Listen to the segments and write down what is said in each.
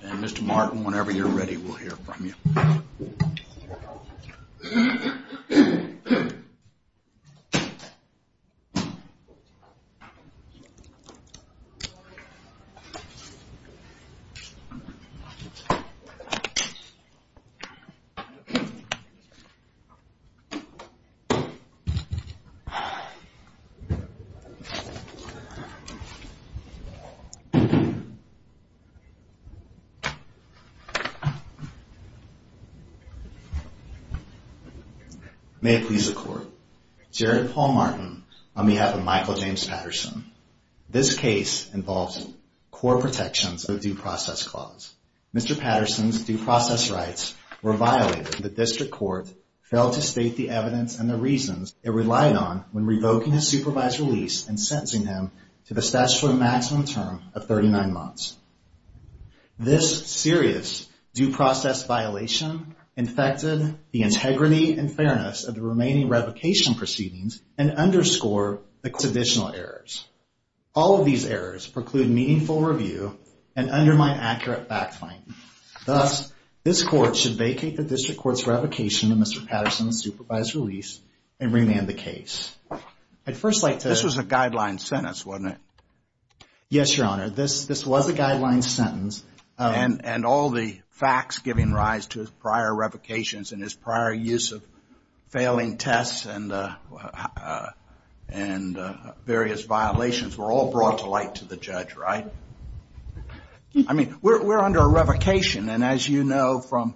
and Mr. Martin, whenever you're ready, we'll hear from you. May it please the court, Jared Paul Martin, on behalf of Michael James Patterson. This case involves core protections of the due process clause. Mr. Patterson's due process rights were violated. The district court failed to state the evidence and the reasons it relied on when revoking his supervised release and sentencing him to the statutory maximum term of 39 months. This serious due process violation infected the integrity and fairness of the remaining revocation proceedings and underscored the court's additional errors. All of these errors preclude meaningful review and undermine accurate fact-finding. Thus, this court should vacate the district court's revocation of Mr. Patterson's supervised release and remand the case. I'd first like to... This was a guideline sentence, wasn't it? Yes, Your Honor. This was a guideline sentence. And all the facts giving rise to his prior revocations and his prior use of failing tests and various violations were all brought to light to the judge, right? I mean, we're under a revocation, and as you know from,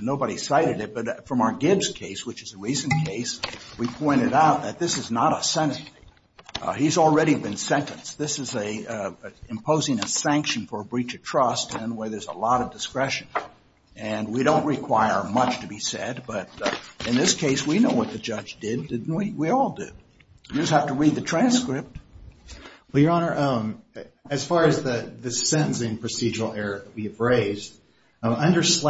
nobody cited it, but from our Gibbs case, which is a recent case, we pointed out that this is not a sentencing. He's already been sentenced. This is imposing a sanction for a breach of trust and where there's a lot of discretion. And we don't require much to be said, but in this case, we know what the judge did, didn't we? We all did. You just have to read the transcript. Well, Your Honor, as far as the sentencing procedural error that we have raised, under which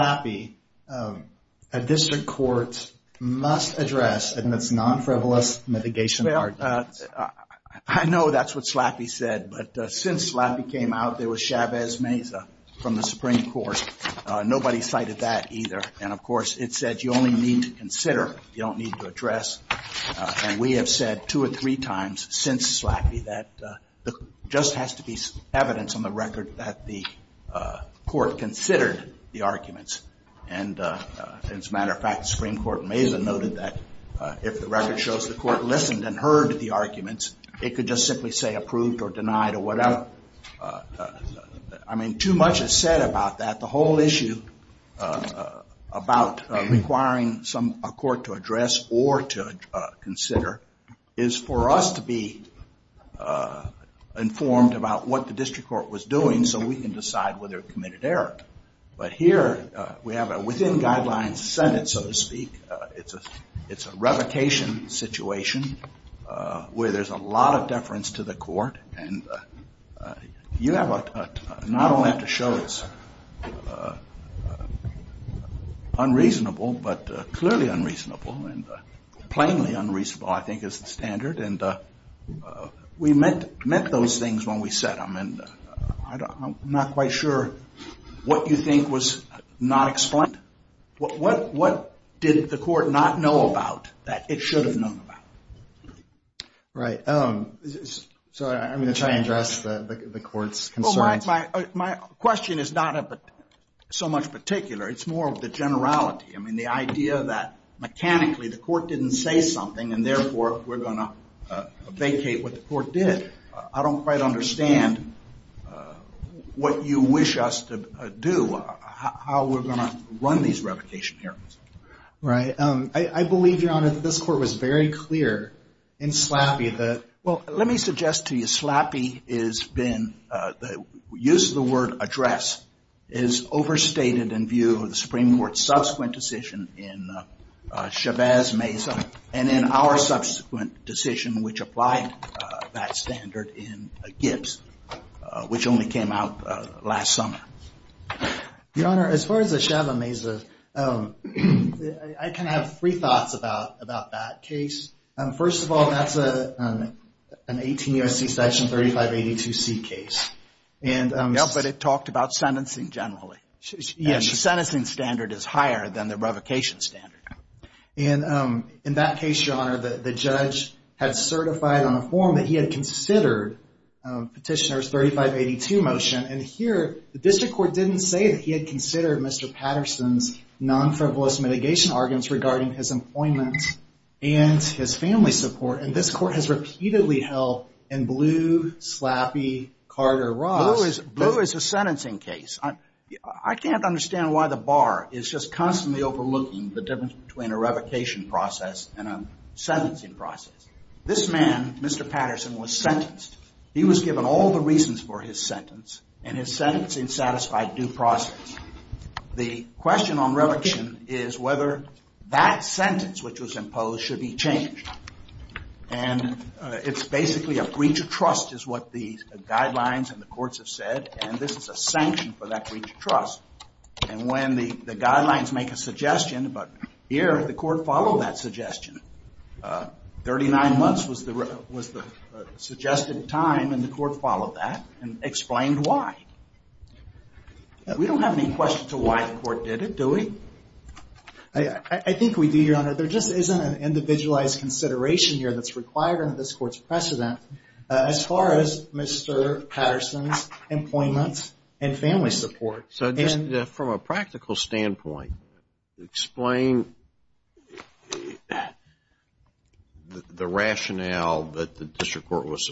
the court must address in its non-frivolous mitigation arguments. I know that's what Slaffy said, but since Slaffy came out, there was Chavez Meza from the Supreme Court. Nobody cited that either. And of course, it said you only need to consider, you don't need to address. And we have said two or three times since Slaffy that just has to be evidence on the record that the court considered the arguments. And as a matter of fact, Supreme Court Meza noted that if the record shows the court listened and heard the arguments, it could just simply say approved or denied or whatever. I mean, too much is said about that. The whole issue about requiring some court to address or to consider is for us to be informed about what the district court was doing so we can decide whether a committed error. But here, we have a within guidelines Senate, so to speak. It's a revocation situation where there's a lot of deference to the court. And you have not only have to show it's unreasonable, but clearly unreasonable. And plainly unreasonable, I think, is the standard. And we meant those things when we said them. And I'm not quite sure what you think was not explained. What did the court not know about that it should have known about? Right. So I'm going to try and address the court's concerns. My question is not so much particular. It's more of the generality. I mean, the idea that mechanically the court didn't say something, and therefore, we're going to vacate what the court did. I don't quite understand what you wish us to do, how we're going to run these revocation hearings. Right. I believe, Your Honor, that this court was very clear in Slappy that... Use of the word address is overstated in view of the Supreme Court's subsequent decision in Chavez-Mesa, and in our subsequent decision, which applied that standard in Gibbs, which only came out last summer. Your Honor, as far as the Chavez-Mesa, I kind of have three thoughts about that case. First of all, that's an 18 U.S.C. Section 3582C case. But it talked about sentencing generally. Yes. And the sentencing standard is higher than the revocation standard. In that case, Your Honor, the judge had certified on a form that he had considered Petitioner's 3582 motion. And here, the district court didn't say that he had considered Mr. Patterson's non-frivolous mitigation arguments regarding his employment and his family's support. And this court has repeatedly held in Blue, Slappy, Carter, Ross... Blue is a sentencing case. I can't understand why the bar is just constantly overlooking the difference between a revocation process and a sentencing process. This man, Mr. Patterson, was sentenced. He was given all the reasons for his sentence, and his sentence unsatisfied due process. The question on revocation is whether that sentence, which was imposed, should be changed. And it's basically a breach of trust is what the guidelines and the courts have said. And this is a sanction for that breach of trust. And when the guidelines make a suggestion, but here, the court followed that suggestion. 39 months was the suggested time, and the question to why the court did it, do we? I think we do, Your Honor. There just isn't an individualized consideration here that's required under this court's precedent. As far as Mr. Patterson's employment and family support... So just from a practical standpoint, explain the rationale that the district court was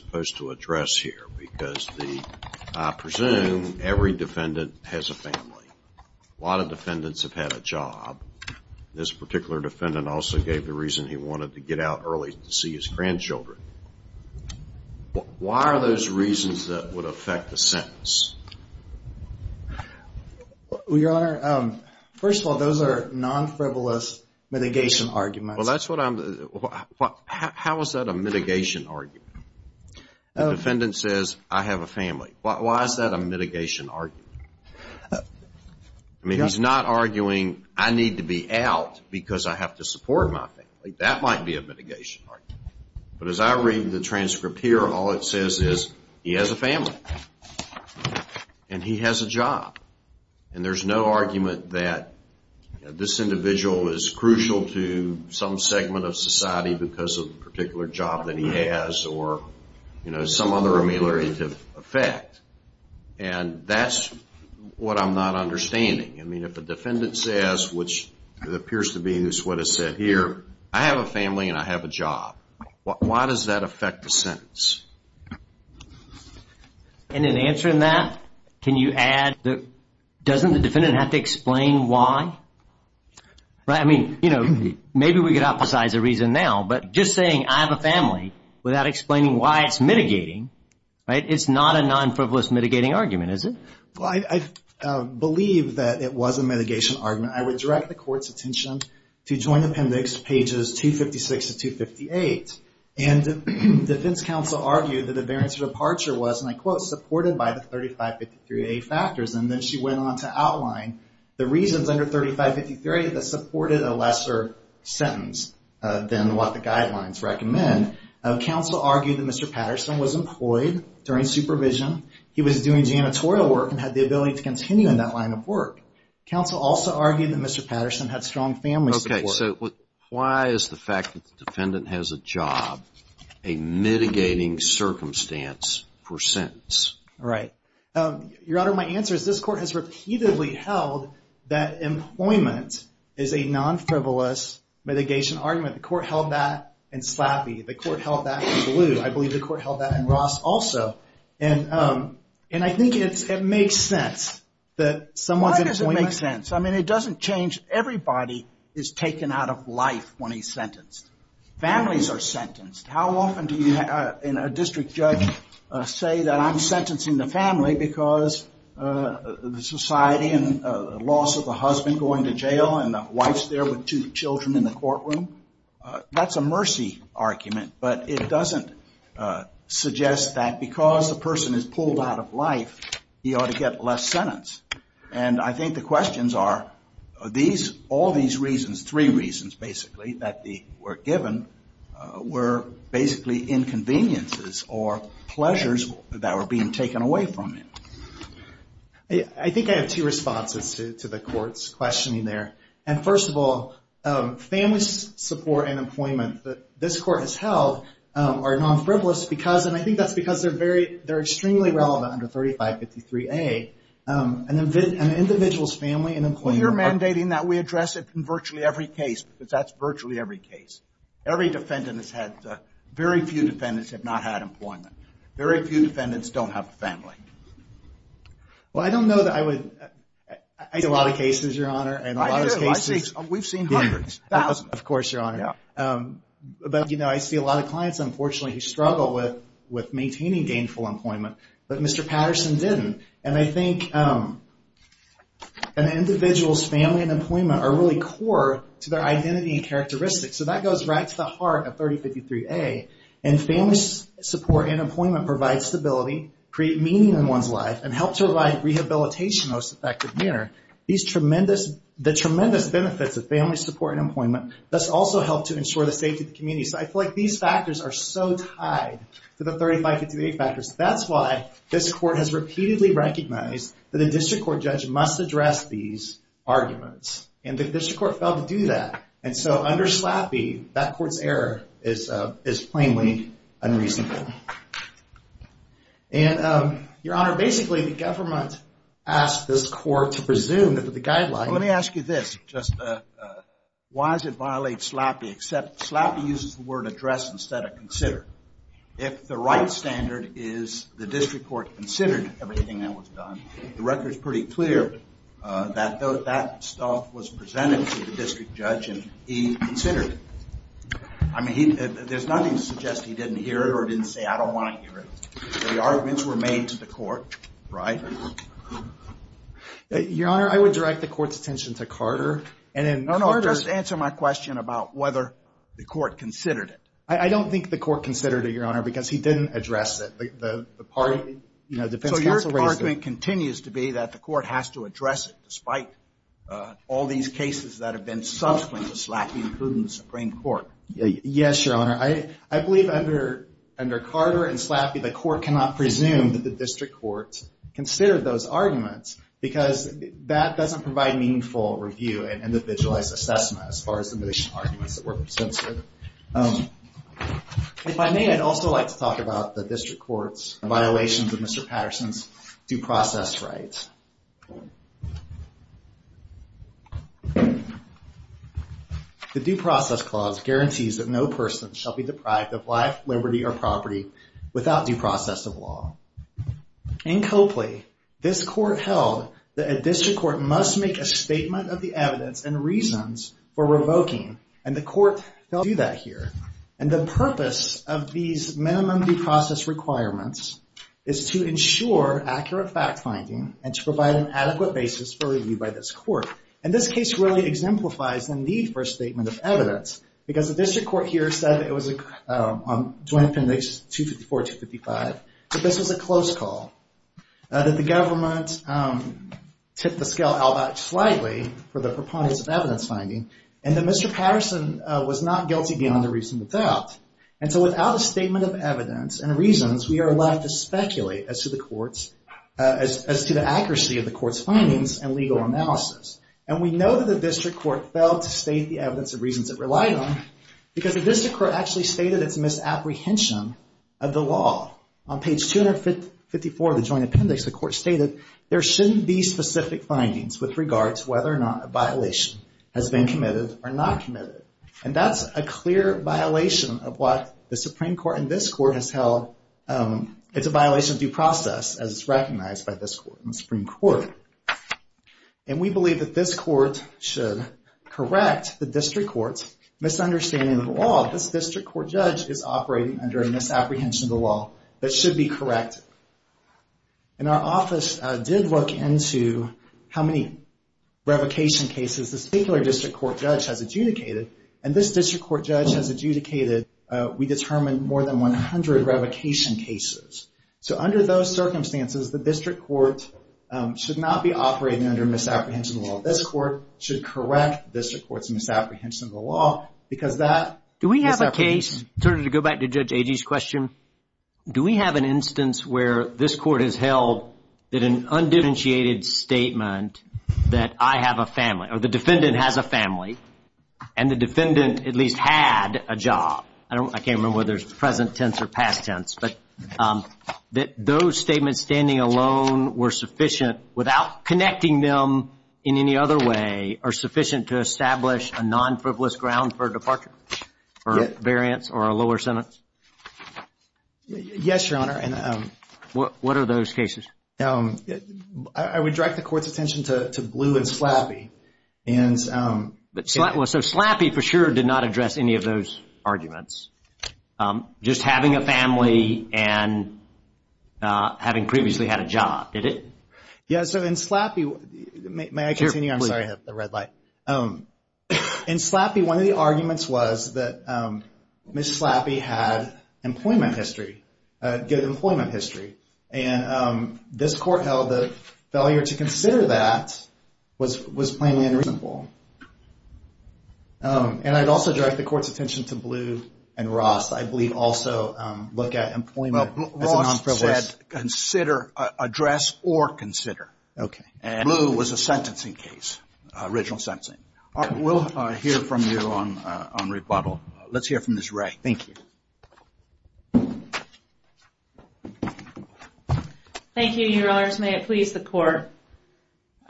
asking. A lot of defendants have had a job. This particular defendant also gave the reason he wanted to get out early to see his grandchildren. Why are those reasons that would affect the sentence? Well, Your Honor, first of all, those are non-frivolous mitigation arguments. How is that a mitigation argument? The defendant says, I have a family. Why is that a mitigation argument? I mean, he's not arguing, I need to be out because I have to support my family. That might be a mitigation argument. But as I read the transcript here, all it says is he has a family and he has a job. And there's no argument that this individual is crucial to some segment of society because of a particular job that he has or some other ameliorative effect. And that's what I'm not understanding. I mean, if a defendant says, which it appears to be is what is said here, I have a family and I have a job. Why does that affect the sentence? And in answering that, can you add that doesn't the defendant have to explain why? I mean, maybe we could hypothesize a reason now, but just saying I have a family without explaining why it's mitigating, right? It's not a non-frivolous mitigating argument, is it? Well, I believe that it was a mitigation argument. I would direct the court's attention to Joint Appendix pages 256 to 258. And the defense counsel argued that the variance of departure was, and I quote, supported by the 3553A factors. And then she went on to outline the reasons under 3553A that supported a lesser sentence than what the guidelines recommend. Counsel argued that Mr. Patterson was employed during supervision. He was doing janitorial work and had the ability to continue in that line of work. Counsel also argued that Mr. Patterson had strong family support. Okay, so why is the fact that the defendant has a job a mitigating circumstance for sentence? Right. Your Honor, my answer is this court has repeatedly held that employment is a non-frivolous mitigation argument. The court held that in Slappy. The court held that in DeLue. I believe the court held that in Ross also. And I think it makes sense that someone's employment- Why does it make sense? I mean, it doesn't change. Everybody is taken out of life when he's sentenced. Families are sentenced. How often do you, in a district judge, say that I'm sentencing the family because the society and the loss of the husband going to jail and the wife's there with two children in the courtroom? That's a mercy argument, but it doesn't suggest that because the person is pulled out of life, he ought to get less sentence. And I think the questions are, are these, all these reasons, three reasons basically that were given, were basically inconveniences or pleasures that were being taken away from him. I think I have two responses to the court's questioning there. And first of all, family support and employment that this court has held are non-frivolous because, and I think that's because they're very, they're extremely relevant under 3553A. An individual's family and employment- Well, you're mandating that we address it in virtually every case because that's virtually every case. Every defendant has had, very few defendants have not had employment. Very few defendants don't have a family. Well, I don't know that I would, I see a lot of cases, Your Honor, and a lot of cases- I do. I see, we've seen hundreds. Thousands, of course, Your Honor. But, you know, I see a lot of clients unfortunately who struggle with maintaining gainful employment, but Mr. Patterson didn't. And I think an individual's family and employment are really core to their identity and characteristics. So that goes right to the heart of 3053A. And family support and employment provide stability, create meaning in one's life, and help to provide rehabilitation in the most effective manner. These tremendous, the tremendous benefits of family support and employment, thus also help to ensure the safety of the community. So I feel like these factors are so tied to the 3553A factors. That's why this court has repeatedly recognized that a district court judge must address these issues. That court's error is plainly unreasonable. And, Your Honor, basically the government asked this court to presume that the guidelines- Let me ask you this, just why does it violate SLAPI, except SLAPI uses the word address instead of consider. If the right standard is the district court considered everything that was done, the record's pretty clear that that stuff was presented to the district judge and he considered it. I mean, there's nothing to suggest he didn't hear it or didn't say, I don't want to hear it. The arguments were made to the court, right? Your Honor, I would direct the court's attention to Carter. And in Carter- No, no, just answer my question about whether the court considered it. I don't think the court considered it, Your Honor, because he didn't address it. The party, you know, defense counsel raised it. So your argument continues to be that the court has to address it, despite all these cases that have been subsequent to SLAPI, including the Supreme Court. Yes, Your Honor. I believe under Carter and SLAPI, the court cannot presume that the district court considered those arguments because that doesn't provide meaningful review and individualized assessment as far as the initial arguments that were presented. If I may, I'd also like to talk about the district court's violations of Mr. Patterson's due process rights. The Due Process Clause guarantees that no person shall be deprived of life, liberty, or property without due process of law. In Copley, this court held that a district court must make a statement of the evidence and reasons for revoking. And the court does that here. And the purpose of these minimum due process requirements is to ensure accurate fact-finding and to provide an adequate basis for review by this court. And this case really exemplifies the need for a statement of evidence, because the district court here said it was a Joint Appendix 254-255, that this was a close call, that the government tipped the scale out back slightly for the purpose of evidence finding, and that Mr. Patterson was not guilty beyond a reasonable doubt. And so without a statement of evidence and reasons, we are allowed to speculate as to the court's, as to the accuracy of the court's findings and legal analysis. And we know that the district court failed to state the evidence and reasons it relied on, because the district court actually stated its misapprehension of the law. On page 254 of the Joint Appendix, the court stated, there shouldn't be specific findings with regards to whether or not a violation has been committed or not committed. And that's a clear violation of what the Supreme Court and this court has held. It's a violation of due process, as is recognized by this Supreme Court. And we believe that this court should correct the district court's misunderstanding of the law. This district court judge is operating under a misapprehension of the law that should be corrected. And our office did look into how many revocation cases this particular district court judge has adjudicated. And this district court judge has adjudicated, we determined, more than 100 revocation cases. So under those circumstances, the district court should not be operating under misapprehension of the law. This court should correct the district court's misapprehension of the law, because that misapprehension... Do we have a case, sort of to go back to Judge Agee's question, do we have an instance where this court has held that an undifferentiated statement that I have a family, or the defendant has a family, and the defendant at least had a job, I can't remember whether it's present tense or past tense, but that those statements standing alone were sufficient, without connecting them in any other way, are sufficient to establish a non-frivolous ground for departure, or variance, or a lower sentence? Yes, Your Honor. What are those cases? I would direct the court's attention to Bleu and Slappy. So Slappy, for sure, did not address any of those arguments. Just having a family, and having previously had a job, did it? Yes, so in Slappy, may I continue? I'm sorry, I have the red light. In Slappy, one of the cases had employment history, good employment history, and this court held that failure to consider that was plainly unreasonable. And I'd also direct the court's attention to Bleu and Ross, I believe also look at employment as a non-frivolous... Well, Ross said, consider, address, or consider, and Bleu was a sentencing case, original sentencing. We'll hear from you on rebuttal. Let's hear from Ms. Ray. Thank you. Thank you, Your Honors. May it please the court.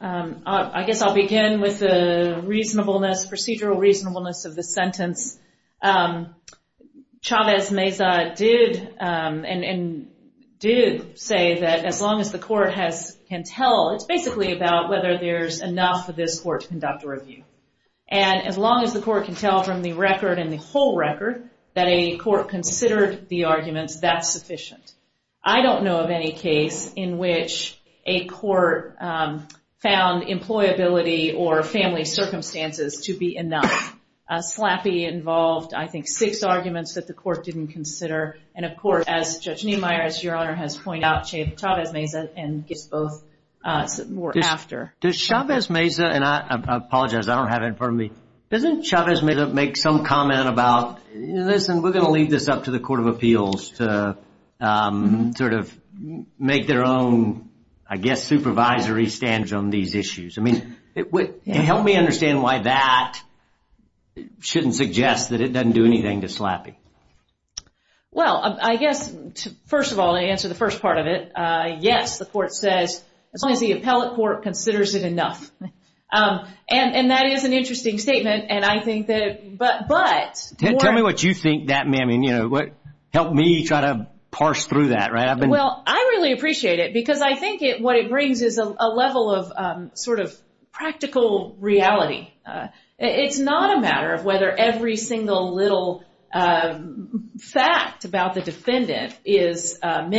I guess I'll begin with the reasonableness, procedural reasonableness of the sentence. Chavez Meza did say that as long as the court can tell, it's basically about whether there's enough for this court to conduct a review. And as long as the court can tell from the record and the whole record that a court considered the arguments, that's sufficient. I don't know of any case in which a court found employability or family circumstances to be enough. Slappy involved, I think, six arguments that the court didn't consider. And of course, as Judge Niemeyer, as Your Honor has pointed out, Chavez Meza and Gis both were after. Does Chavez Meza, and I apologize, I don't have it in front of me. Doesn't Chavez Meza make some comment about, listen, we're going to leave this up to the Court of Appeals to sort of make their own, I guess, supervisory stance on these issues? I mean, help me understand why that shouldn't suggest that it doesn't do anything to Slappy. Well, I guess, first of all, to answer the first part of it, yes, the court says, as long as the defendant considers it enough. And that is an interesting statement, and I think that, but... Tell me what you think that may mean. Help me try to parse through that, right? Well, I really appreciate it, because I think what it brings is a level of sort of practical reality. It's not a matter of whether every single little fact about the defendant is what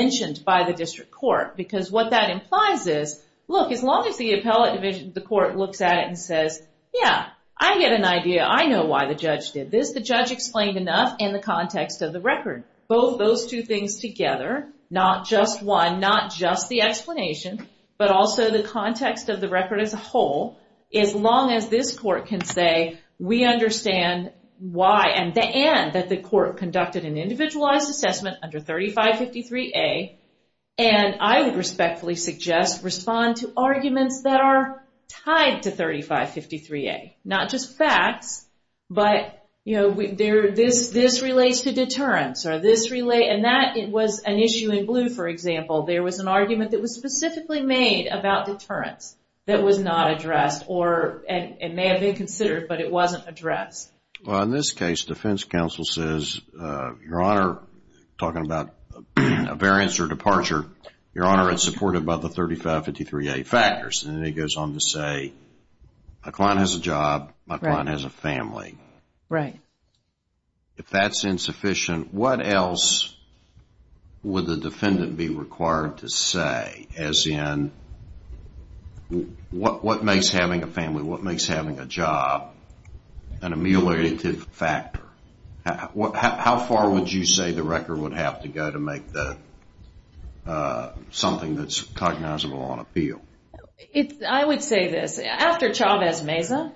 that implies is, look, as long as the appellate division, the court looks at it and says, yeah, I get an idea. I know why the judge did this. The judge explained enough in the context of the record. Both those two things together, not just one, not just the explanation, but also the context of the record as a whole, as long as this court can say, we understand why, and that the court conducted an individualized assessment under 3553A, and I would respectfully suggest, respond to arguments that are tied to 3553A, not just facts, but this relates to deterrence, or this relates, and that was an issue in blue, for example. There was an argument that was specifically made about deterrence that was not addressed, or it may have been considered, but it wasn't addressed. Well, in this case, defense counsel says, Your Honor, talking about a variance or departure, Your Honor, it's supported by the 3553A factors, and then he goes on to say, my client has a job, my client has a family. Right. If that's insufficient, what else would the defendant be required to say, as in, what makes having a family, what makes having a job, an ameliorative factor? How far would you say the record would have to go to make that something that's cognizable on appeal? I would say this. After Chavez-Meza,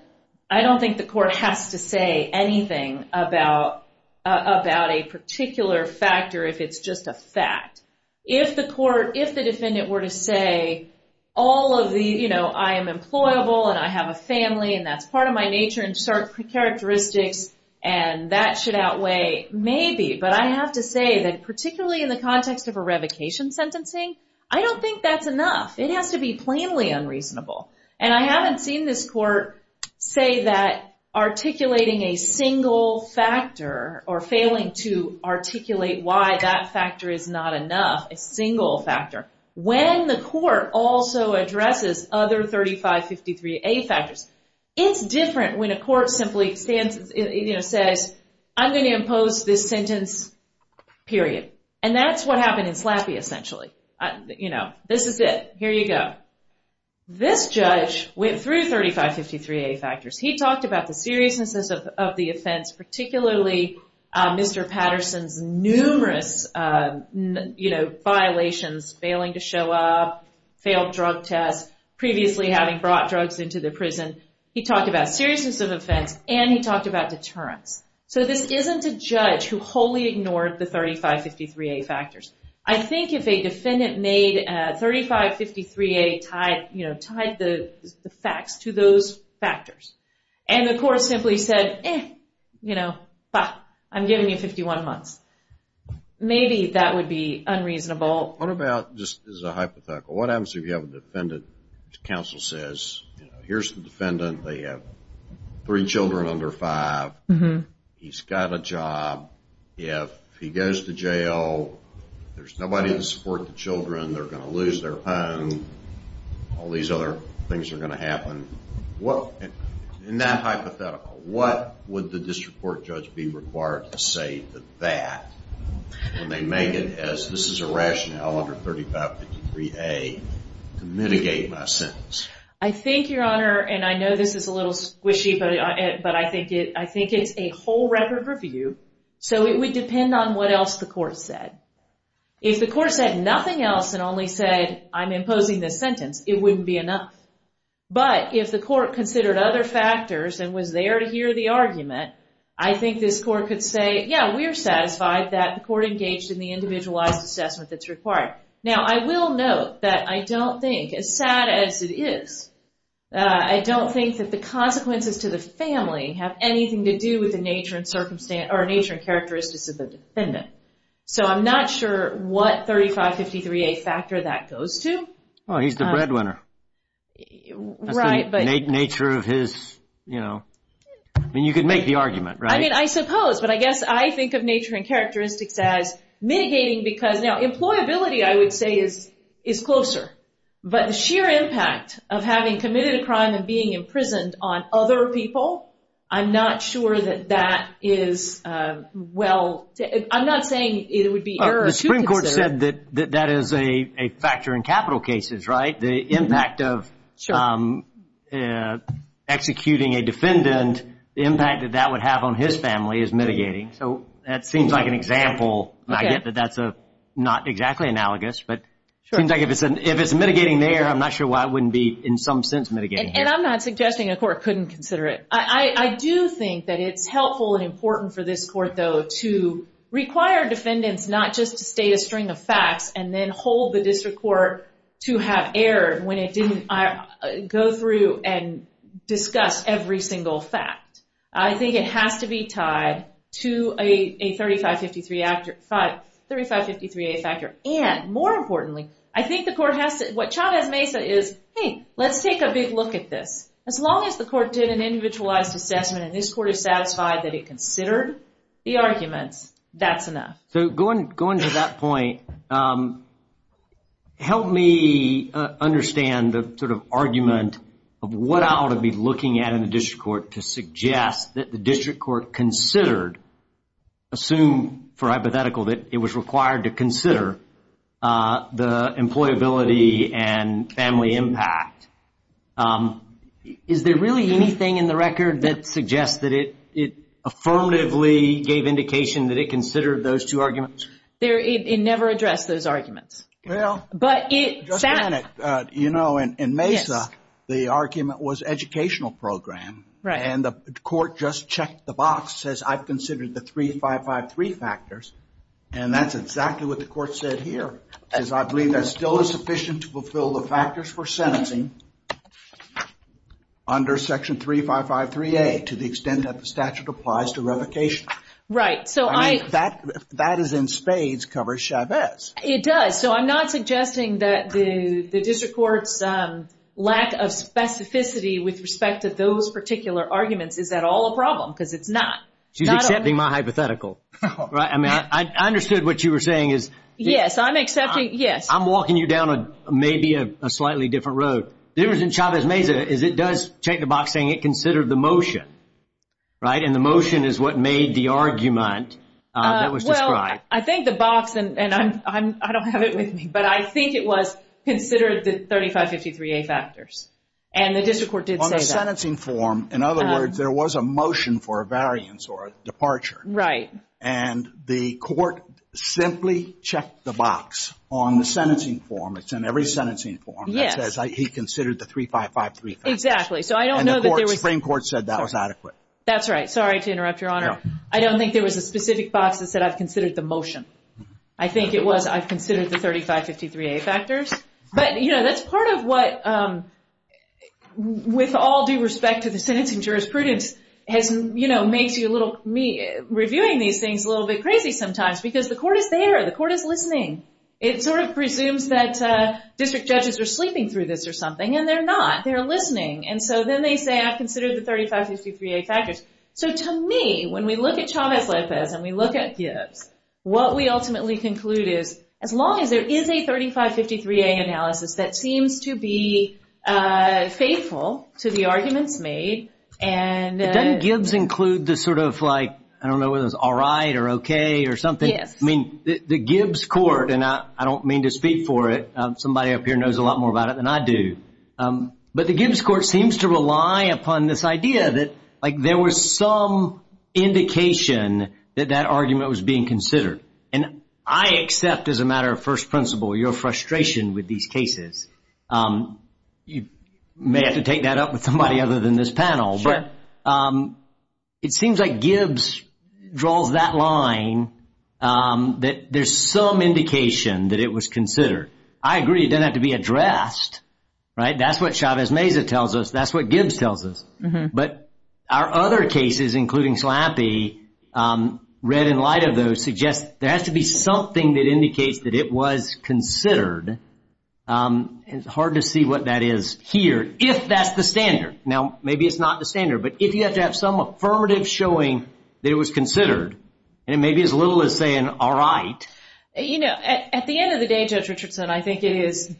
I don't think the court has to say anything about a particular factor if it's just a fact. If the defendant were to say, I am employed, and I have a family, and that's part of my nature and certain characteristics, and that should outweigh maybe, but I have to say that particularly in the context of a revocation sentencing, I don't think that's enough. It has to be plainly unreasonable, and I haven't seen this court say that articulating a single factor or failing to articulate why that factor is not enough, a single factor, when the court also addresses other 3553A factors. It's different when a court simply says, I'm going to impose this sentence, period. And that's what happened in Slappy, essentially. This is it. Here you go. This judge went through 3553A factors. He talked about the seriousness of the offense, particularly Mr. Patterson's numerous violations, failing to show up, failed drug tests, previously having brought drugs into the prison. He talked about seriousness of offense, and he talked about deterrence. So this isn't a judge who wholly ignored the 3553A factors. I think if a defendant made 3553A tied the facts to those factors, and the court simply said, you know, I'm giving you 51 months. Maybe that would be unreasonable. What about, just as a hypothetical, what happens if you have a defendant, counsel says, here's the defendant, they have three children under five, he's got a job, if he goes to jail, there's nobody to support the children, they're going to lose their home, all these other things are going to happen. In that hypothetical, what would the district court judge be required to say to that when they make it as this is a rationale under 3553A to mitigate my sentence? I think, Your Honor, and I know this is a little squishy, but I think it's a whole record review. So it would depend on what else the court said. If the court said nothing else and only said, I'm imposing this sentence, it wouldn't be enough. But if the court considered other factors and was there to hear the argument, I think this court could say, yeah, we're satisfied that the court engaged in the individualized assessment that's required. Now I will note that I don't think, as sad as it is, I don't think that the consequences to the family have anything to do with the nature and characteristics of the defendant. So I'm not sure what 3553A factor that goes to. Oh, he's the breadwinner. That's the nature of his, you know, I mean you could make the argument, right? I mean, I suppose, but I guess I think of nature and characteristics as mitigating because now employability, I would say, is closer. But the sheer impact of having committed a crime and being imprisoned on other people, I'm not sure that that is well, I'm not sure I'm not saying it would be error to consider. The Supreme Court said that that is a factor in capital cases, right? The impact of executing a defendant, the impact that that would have on his family is mitigating. So that seems like an example. I get that that's not exactly analogous, but it seems like if it's mitigating there, I'm not sure why it wouldn't be in some sense mitigating here. And I'm not suggesting a court couldn't consider it. I do think that it's helpful and important for this court, though, to require defendants not just to state a string of facts and then hold the district court to have error when it didn't go through and discuss every single fact. I think it has to be tied to a 3553A factor. And more importantly, I think the court has to, what Chavez-Mesa is, hey, let's take a big look at this. As long as the court did an individualized assessment and this court is satisfied that it considered the arguments, that's enough. So going to that point, help me understand the sort of argument of what I ought to be looking at in the district court to suggest that the district court considered, assume for hypothetical that it was required to consider, the employability and family impact. Is there really anything in the record that suggests that it affirmatively gave indication that it considered those two arguments? It never addressed those arguments. Well, just a minute. In Mesa, the argument was educational program. And the court just checked the box, says I've considered the 3553 factors. And that's exactly what the court said here, is I believe that still is sufficient to fulfill the factors for sentencing under section 3553A to the extent that the statute applies to revocation. Right. I mean, if that is in spades, covers Chavez. It does. So I'm not suggesting that the district court's lack of specificity with respect to those particular arguments is at all a problem, because it's not. She's accepting my hypothetical. I mean, I understood what you were saying is... Yes, I'm accepting, yes. I'm walking you down maybe a slightly different road. The difference in Chavez Mesa is it does check the box saying it considered the motion, right? And the motion is what made the argument that was described. Well, I think the box, and I don't have it with me, but I think it was considered the 3553A factors. And the district court did say that. On the sentencing form, in other words, there was a motion for a variance or a departure. Right. And the court simply checked the box on the sentencing form. It's in every sentencing form that says he considered the 3553A factors. Exactly. So I don't know that there was... And the Supreme Court said that was adequate. That's right. Sorry to interrupt, Your Honor. I don't think there was a specific box that said, I've considered the motion. I think it was, I've considered the 3553A factors. But, you know, that's part of what, with all due respect to the sentencing jurisprudence, has, you know, makes you a little, me reviewing these things a little bit crazy sometimes, because the court is there. The court is listening. It sort of presumes that district judges are sleeping through this or something, and they're not. They're listening. And so then they say, I've considered the 3553A factors. So to me, when we look at Chavez-Lopez and we look at Gibbs, what we ultimately conclude is, as long as there is a 3553A analysis that seems to be faithful to the arguments made and... Doesn't Gibbs include the sort of like, I don't know whether it's alright or okay or something? Yes. I mean, the Gibbs court, and I don't mean to speak for it, somebody up here knows a lot more about it than I do. But the Gibbs court seems to rely upon this idea that, like, there was some indication that that argument was being considered. And I accept, as a matter of first principle, your frustration with these cases. You may have to take that up with somebody other than this panel. Sure. But it seems like Gibbs draws that line that there's some indication that it was considered. I agree. It doesn't have to be addressed, right? That's what Chavez-Meza tells us. That's what Gibbs tells us. But our other cases, including Slappy, red in light of those, suggest there has to be something that indicates that it was considered. It's hard to see what that is here, if that's the standard. Now, maybe it's not the standard, but if you have to have some affirmative showing that it was considered, and it may be as little as saying, all right. You know, at the end of the day, Judge Richardson, I think it is,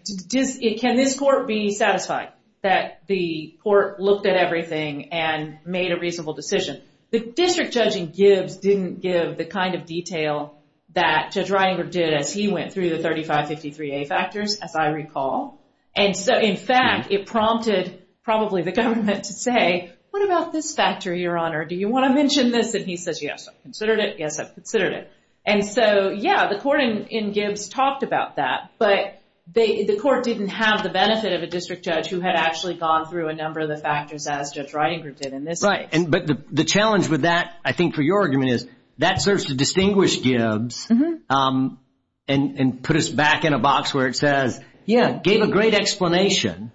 can this court be satisfied that the court looked at everything and made a reasonable decision? The district judge in Gibbs didn't give the kind of detail that Judge Reininger did as he went through the I recall. And so, in fact, it prompted probably the government to say, what about this factor, Your Honor? Do you want to mention this? And he says, yes, I've considered it. Yes, I've considered it. And so, yeah, the court in Gibbs talked about that, but the court didn't have the benefit of a district judge who had actually gone through a number of the factors as Judge Reininger did in this case. But the challenge with that, I think, for your argument is that serves to distinguish Gibbs and put us back in a box where it says, yeah, gave a great explanation,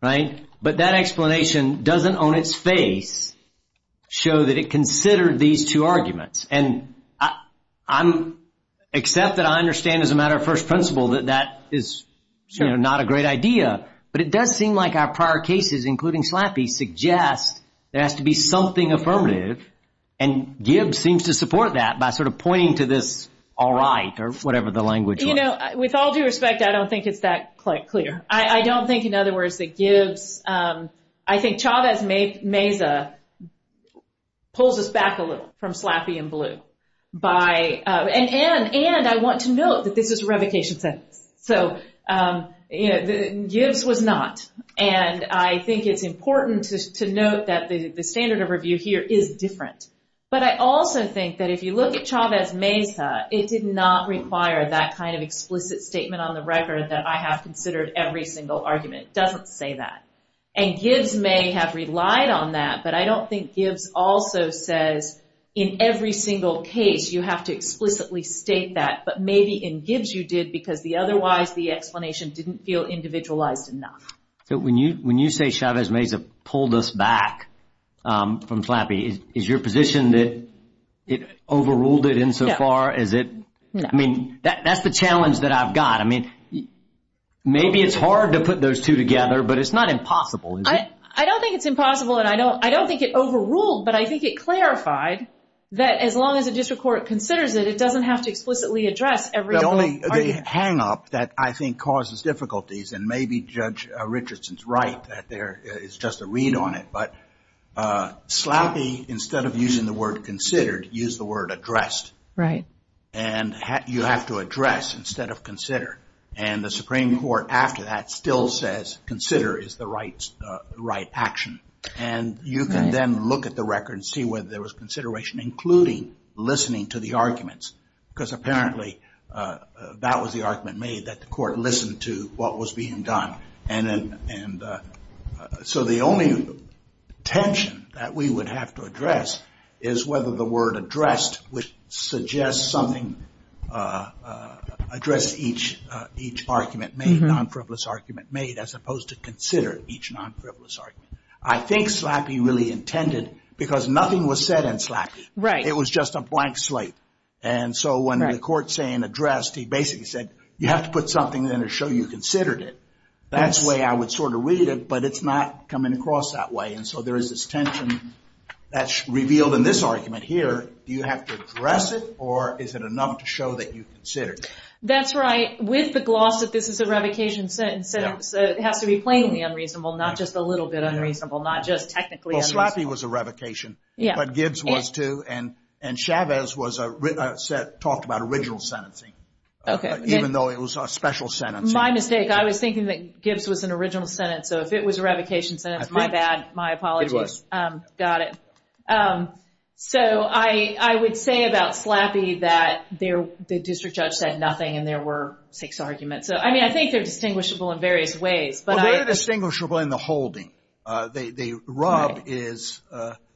right? But that explanation doesn't, on its face, show that it considered these two arguments. And I'm, except that I understand as a matter of first principle that that is not a great idea. But it does seem like our prior cases, including Slappy, suggest there has to be something affirmative. And Gibbs seems to support that by sort of pointing to this, all right, or whatever the language. You know, with all due respect, I don't think it's that clear. I don't think, in other words, that Gibbs, I think Chavez Meza pulls us back a little from Slappy and Blue. And I want to note that this is a revocation sentence. So Gibbs was not. And I think it's important to note that the standard of review here is different. But I also think that if you look at Chavez Meza, it did not require that kind of explicit statement on the record that I have considered every single argument. It doesn't say that. And Gibbs may have relied on that, but I don't think Gibbs also says, in every single case, you have to explicitly state that. But maybe in Gibbs you did because otherwise the explanation didn't feel individualized enough. So when you say Chavez Meza pulled us back from Slappy, is your position that it overruled it insofar as it? I mean, that's the challenge that I've got. I mean, maybe it's hard to put those two together, but it's not impossible. I don't think it's impossible. And I don't think it overruled. But I think it clarified that as long as a district court considers it, it doesn't have to explicitly address every argument. The only hang up that I think causes difficulties, and maybe Judge Richardson's right that there is just a read on it, but Slappy, instead of using the word considered, used the word addressed. Right. And you have to address instead of consider. And the Supreme Court after that still says consider is the right action. And you can then look at the record and see whether there was consideration including listening to the arguments. Because apparently that was the argument made that the court listened to what was being done. And so the only tension that we would have to address is whether the word addressed would suggest something addressed each argument made, non-frivolous argument made, as opposed to consider each non-frivolous argument. I think Slappy really intended, because nothing was said in Slappy. Right. It was just a blank slate. And so when the court's saying addressed, he basically said, you have to put something in to show you considered it. That's the way I would sort of read it, but it's not coming across that way. And so there is this tension that's revealed in this argument here. Do you have to address it or is it enough to show that you considered? That's right. With the gloss that this is a revocation sentence, it has to be plainly unreasonable, not just a little bit unreasonable, not just technically unreasonable. Well, Slappy was a revocation, but Gibbs was too. And Chavez talked about original sentencing, even though it was a special sentence. My mistake. I was thinking that Gibbs was an original sentence. So if it was a revocation sentence, my bad, my apologies. Got it. So I would say about Slappy that the district judge said nothing and there were six arguments. So, I mean, I think they're distinguishable in various ways. They're distinguishable in the holding. The rub is,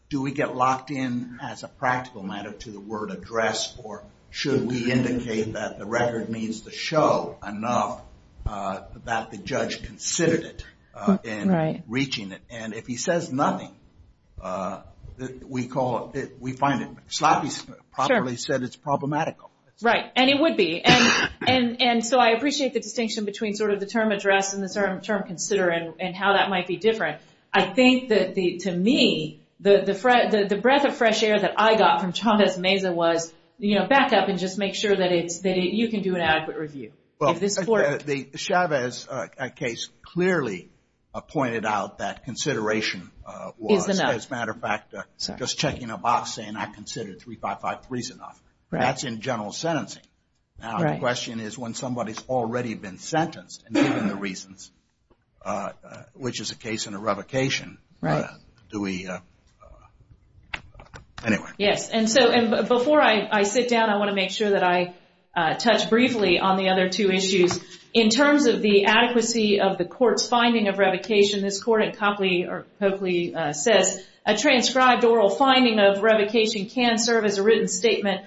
do we get locked in as a practical matter to the word address or should we indicate that the record means to show enough that the judge considered it in reaching it? And if he says nothing, we call it, we find it. Slappy properly said it's problematical. Right. And it would be. And so I appreciate the distinction between sort of the term address and the term consider and how that might be different. I think that to me, the breath of fresh air that I got from Chavez Meza was, you know, back up and just make sure that it's that you can do an adequate review. Well, Chavez's case clearly pointed out that consideration was, as a matter of fact, just checking a box saying I considered three, five, five, three's enough. That's in general sentencing. Now, the question is when somebody's already been sentenced and given the reasons, which is the case in a revocation. Right. Do we. Anyway. Yes. And so before I sit down, I want to make sure that I touch briefly on the other two issues. In terms of the adequacy of the court's finding of revocation, this court in Copley says a transcribed oral finding of revocation can serve as a written statement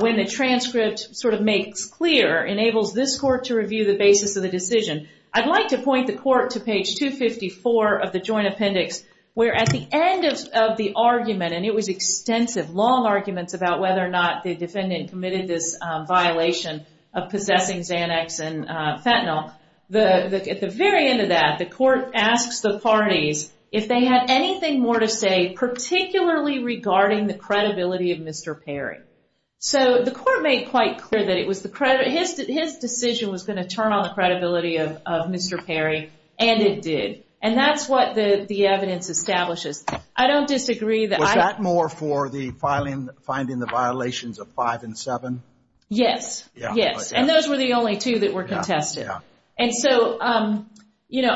when the transcript sort of makes clear, enables this court to review the basis of the decision. I'd like to point the court to page 254 of the joint appendix, where at the end of the argument, and it was extensive, long arguments about whether or not the defendant committed this violation of possessing Xanax and fentanyl. At the very end of that, the court asks the parties if they had anything more to say, particularly regarding the credibility of Mr. Perry. So the court made quite clear that it was the credit, his decision was going to turn on the credibility of Mr. Perry, and it did. And that's what the evidence establishes. I don't disagree that I. Was that more for the filing, finding the violations of five and seven? Yes, yes. And those were the only two that were contested. And so, you know,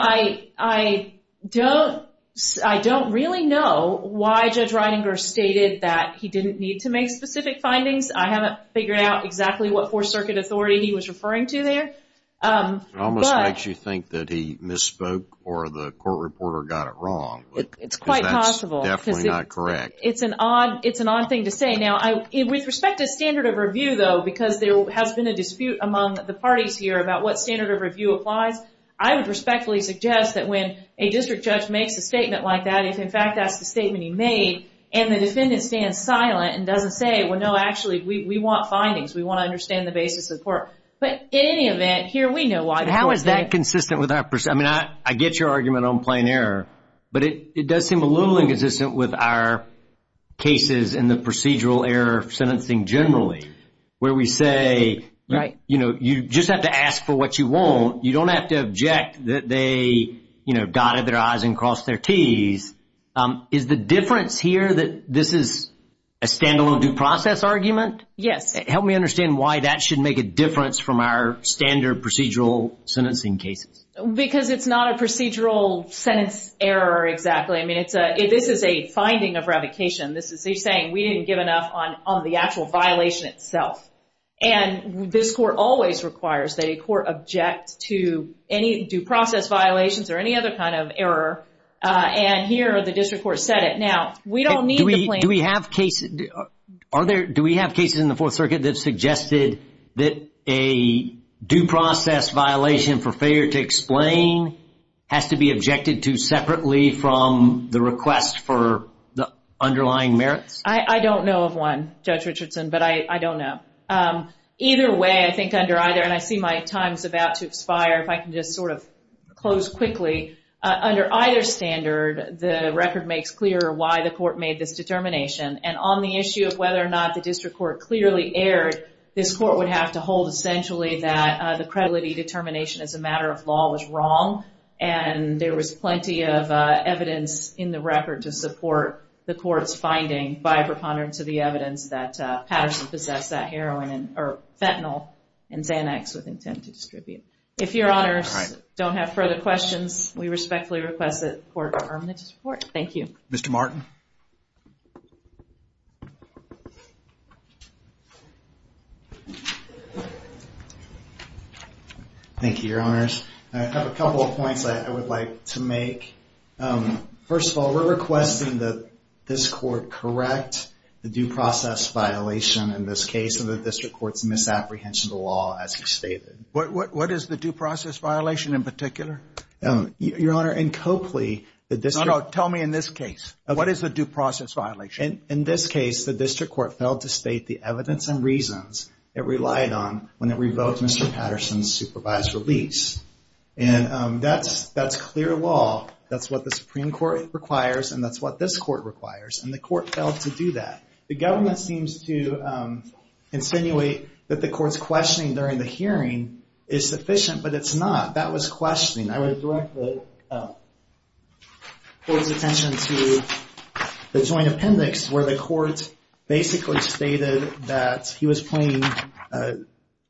I don't really know why Judge Reininger stated that he didn't need to make specific findings. I haven't figured out exactly what Fourth Circuit authority he was referring to there. It almost makes you think that he misspoke or the court reporter got it wrong. It's quite possible. Definitely not correct. It's an odd thing to say. Now, with respect to standard of review, though, because there has been a dispute among the parties here about what standard of review applies, I would respectfully suggest that when a district judge makes a statement like that, if in fact that's the statement he made and the defendant stands silent and doesn't say, well, no, actually, we want findings, we want to understand the basis of the court. But in any event, here we know why. How is that consistent with our, I mean, I get your argument on plain error, but it does seem a little inconsistent with our cases in the procedural error sentencing generally, where we say, you know, you just have to ask for what you want. You don't have to object that they, you know, dotted their I's and crossed their T's. Is the difference here that this is a standalone due process argument? Yes. Help me understand why that should make a difference from our standard procedural sentencing cases. Because it's not a procedural sentence error, exactly. I mean, it's a, this is a finding of revocation. This is, he's saying we didn't give enough on the actual violation itself. And this court always requires that a court object to any due process violations or any other kind of error. And here the district court said it. Now, we don't need the plaintiff. Do we have cases, are there, do we have cases in the Fourth Circuit that suggested that a due process violation for failure to explain has to be objected to separately from the request for the underlying merits? I don't know of one, Judge Richardson, but I don't know. Either way, I think under either, and I see my time's about to expire, if I can just sort of close quickly. Under either standard, the record makes clear why the court made this determination. And on the issue of whether or not the district court clearly erred, this court would have to hold essentially that the credulity determination as a matter of law was wrong. And there was plenty of evidence in the record to support the court's finding by preponderance of the evidence that Patterson possessed that heroin, or fentanyl, and Xanax with intent to distribute. If your honors don't have further questions, we respectfully request that the court confirm the report. Thank you. Mr. Martin. Thank you, your honors. I have a couple of points I would like to make. First of all, we're requesting that this court correct the due process violation in this case of the district court's misapprehension of the law, as you stated. What is the due process violation in particular? Your honor, in Copley, the district... No, no, tell me in this case. What is the due process violation? In this case, the district court failed to state the evidence and reasons it relied on when it revoked Mr. Patterson's supervised release. And that's clear law. That's what the Supreme Court requires, and that's what this court requires. And the court failed to do that. The government seems to insinuate that the court's questioning during the hearing is sufficient, but it's not. That was questioning. I would direct the court's attention to the joint appendix, where the court basically stated that he was playing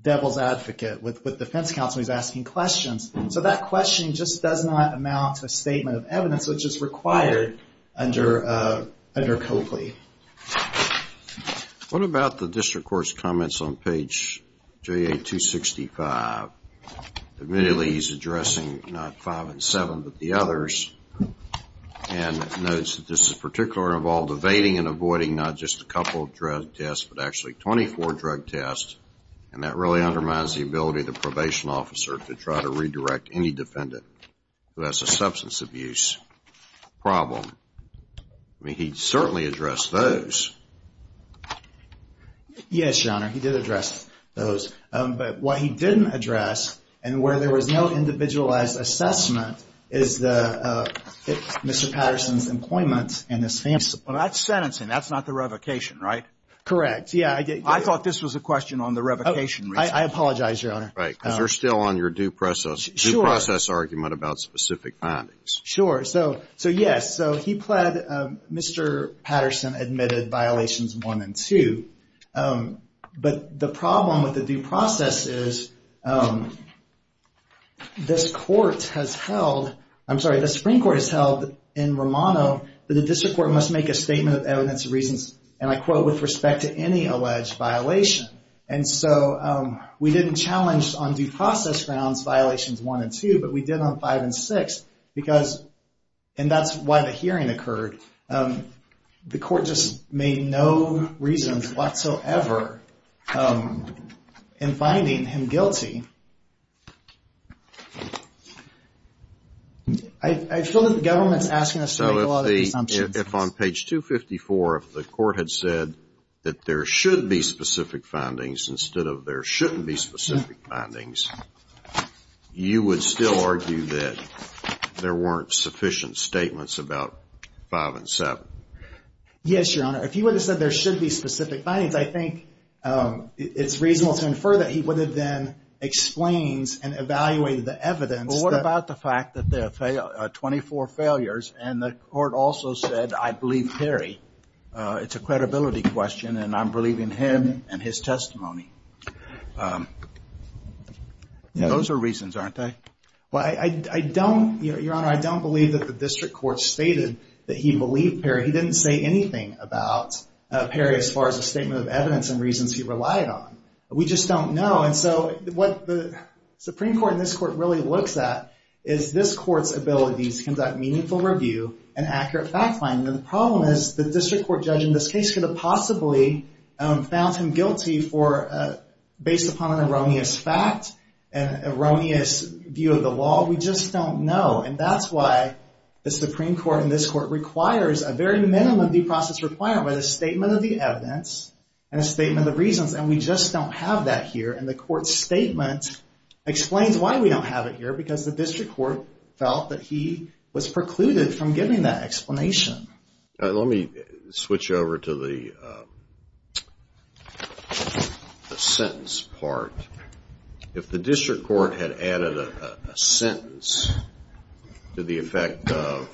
devil's advocate with defense counsel. He was asking questions. So that questioning just does not amount to a statement of evidence, which is required under Copley. What about the district court's comments on page JA-265? Admittedly, he's addressing not five and seven, but the others. And notes that this is particularly involved evading and avoiding not just a couple of drug tests, but actually 24 drug tests. And that really undermines the ability of the probation officer to try to redirect any defendant who has a substance abuse problem. I mean, he certainly addressed those. Yes, your honor, he did address those. But what he didn't address, and where there was no individualized assessment, is Mr. Patterson's employment and his family. Well, that's sentencing. That's not the revocation, right? Correct, yeah. I thought this was a question on the revocation. I apologize, your honor. Right, because you're still on your due process argument about specific findings. Sure. So yes, he pled, Mr. Patterson admitted violations one and two. But the problem with the due process is this court has held, I'm sorry, the Supreme Court has held in Romano that the district court must make a statement of evidence of reasons, and I quote, with respect to any alleged violation. And so we didn't challenge on due process grounds violations one and two, but we did on five and six. Because, and that's why the hearing occurred. The court just made no reasons whatsoever in finding him guilty. I feel that the government's asking us to make a lot of assumptions. If on page 254, if the court had said that there should be specific findings instead of there shouldn't be specific findings, you would still argue that there weren't sufficient statements about five and seven? Yes, your honor. If he would have said there should be specific findings, I think it's reasonable to infer that he would have then explained and evaluated the evidence. Well, what about the fact that there are 24 failures, and the court also said, I believe Perry. It's a credibility question, and I'm believing him and his testimony. Those are reasons, aren't they? Well, I don't, your honor, I don't believe that the district court stated that he believed Perry. He didn't say anything about Perry as far as a statement of evidence and reasons he relied on. We just don't know. And so what the Supreme Court and this court really looks at is this court's ability to conduct meaningful review and accurate fact finding. And the problem is the district court judge in this case could have possibly found him guilty for, based upon an erroneous fact, an erroneous view of the law. We just don't know. And that's why the Supreme Court and this court requires a very minimum due process requirement, a statement of the evidence and a statement of reasons. And we just don't have that here. And the court's statement explains why we don't have it here, because the district court felt that he was precluded from giving that explanation. Let me switch over to the sentence part. If the district court had added a sentence to the effect of,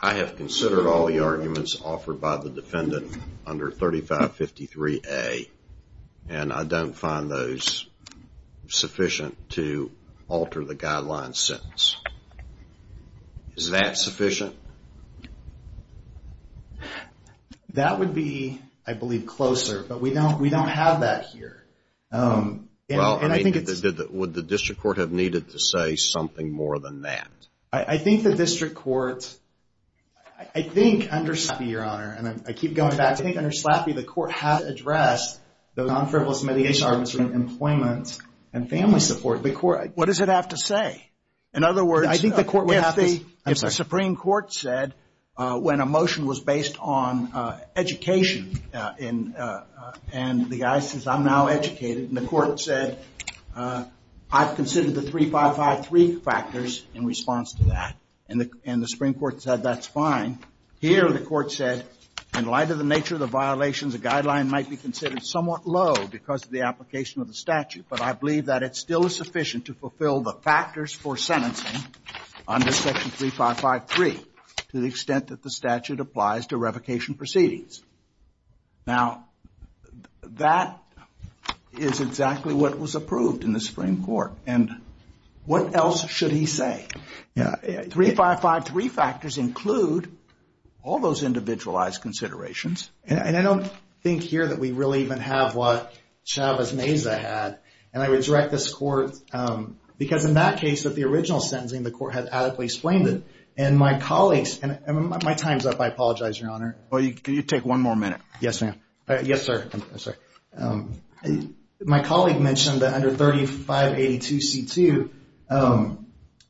I have considered all the arguments offered by the defendant under 3553A, and I don't find those sufficient to alter the guideline sentence. Is that sufficient? That would be, I believe, closer. But we don't have that here. Well, would the district court have needed to say something more than that? I think the district court, I think under Slappy, Your Honor, and I keep going back, I think under Slappy the court has addressed the non-frivolous mediation arguments around employment and family support. What does it have to say? In other words, if the Supreme Court said when a motion was based on education, and the guy says, I'm now educated, and the court said, I've considered the 3553 factors in response to that, and the Supreme Court said that's fine. Here the court said, in light of the nature of the violations, the guideline might be considered somewhat low because of the application of the statute. But I believe that it still is sufficient to fulfill the factors for sentencing under section 3553 to the extent that the statute applies to revocation proceedings. Now, that is exactly what was approved in the Supreme Court. And what else should he say? 3553 factors include all those individualized considerations. And I don't think here that we really even have what Chavez-Meza had. And I would direct this court, because in that case of the original sentencing, the court had adequately explained it. And my colleagues, and my time's up. I apologize, Your Honor. Well, you take one more minute. Yes, ma'am. Yes, sir. My colleague mentioned that under 3582C2,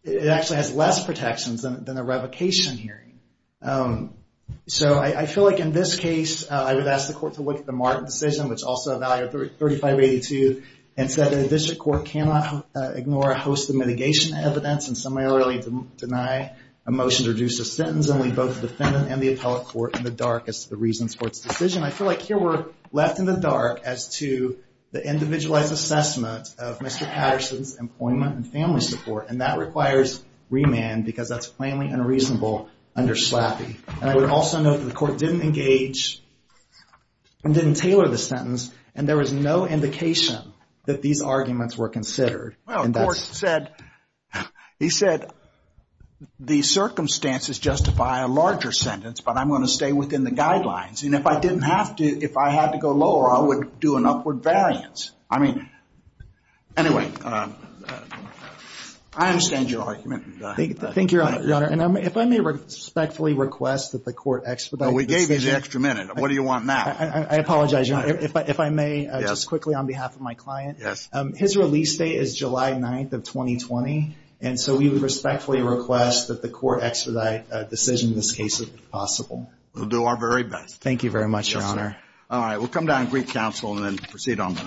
it actually has less protections than a revocation hearing. So I feel like in this case, I would ask the court to look at the Martin decision, which also evaluated 3582, and said that a district court cannot ignore a host of mitigation evidence, and similarly deny a motion to reduce a sentence, and leave both the defendant and the appellate court in the dark as to the reasons for its decision. I feel like here we're left in the dark as to the individualized assessment of Mr. Patterson's employment and family support. And that requires remand, because that's plainly unreasonable under SLAPI. And I would also note that the court didn't engage and didn't tailor the sentence, and there was no indication that these arguments were considered. Well, the court said, he said, the circumstances justify a larger sentence, but I'm going to stay within the guidelines. And if I didn't have to, if I had to go lower, I would do an upward variance. I mean, anyway, I understand your argument. Thank you, Your Honor. And if I may respectfully request that the court expedite the decision. We gave you the extra minute. What do you want now? I apologize, Your Honor. If I may, just quickly on behalf of my client. Yes. His release date is July 9th of 2020, and so we would respectfully request that the court expedite a decision in this case, if possible. Thank you very much, Your Honor. Yes, sir. All right. We'll come down and greet counsel and then proceed on.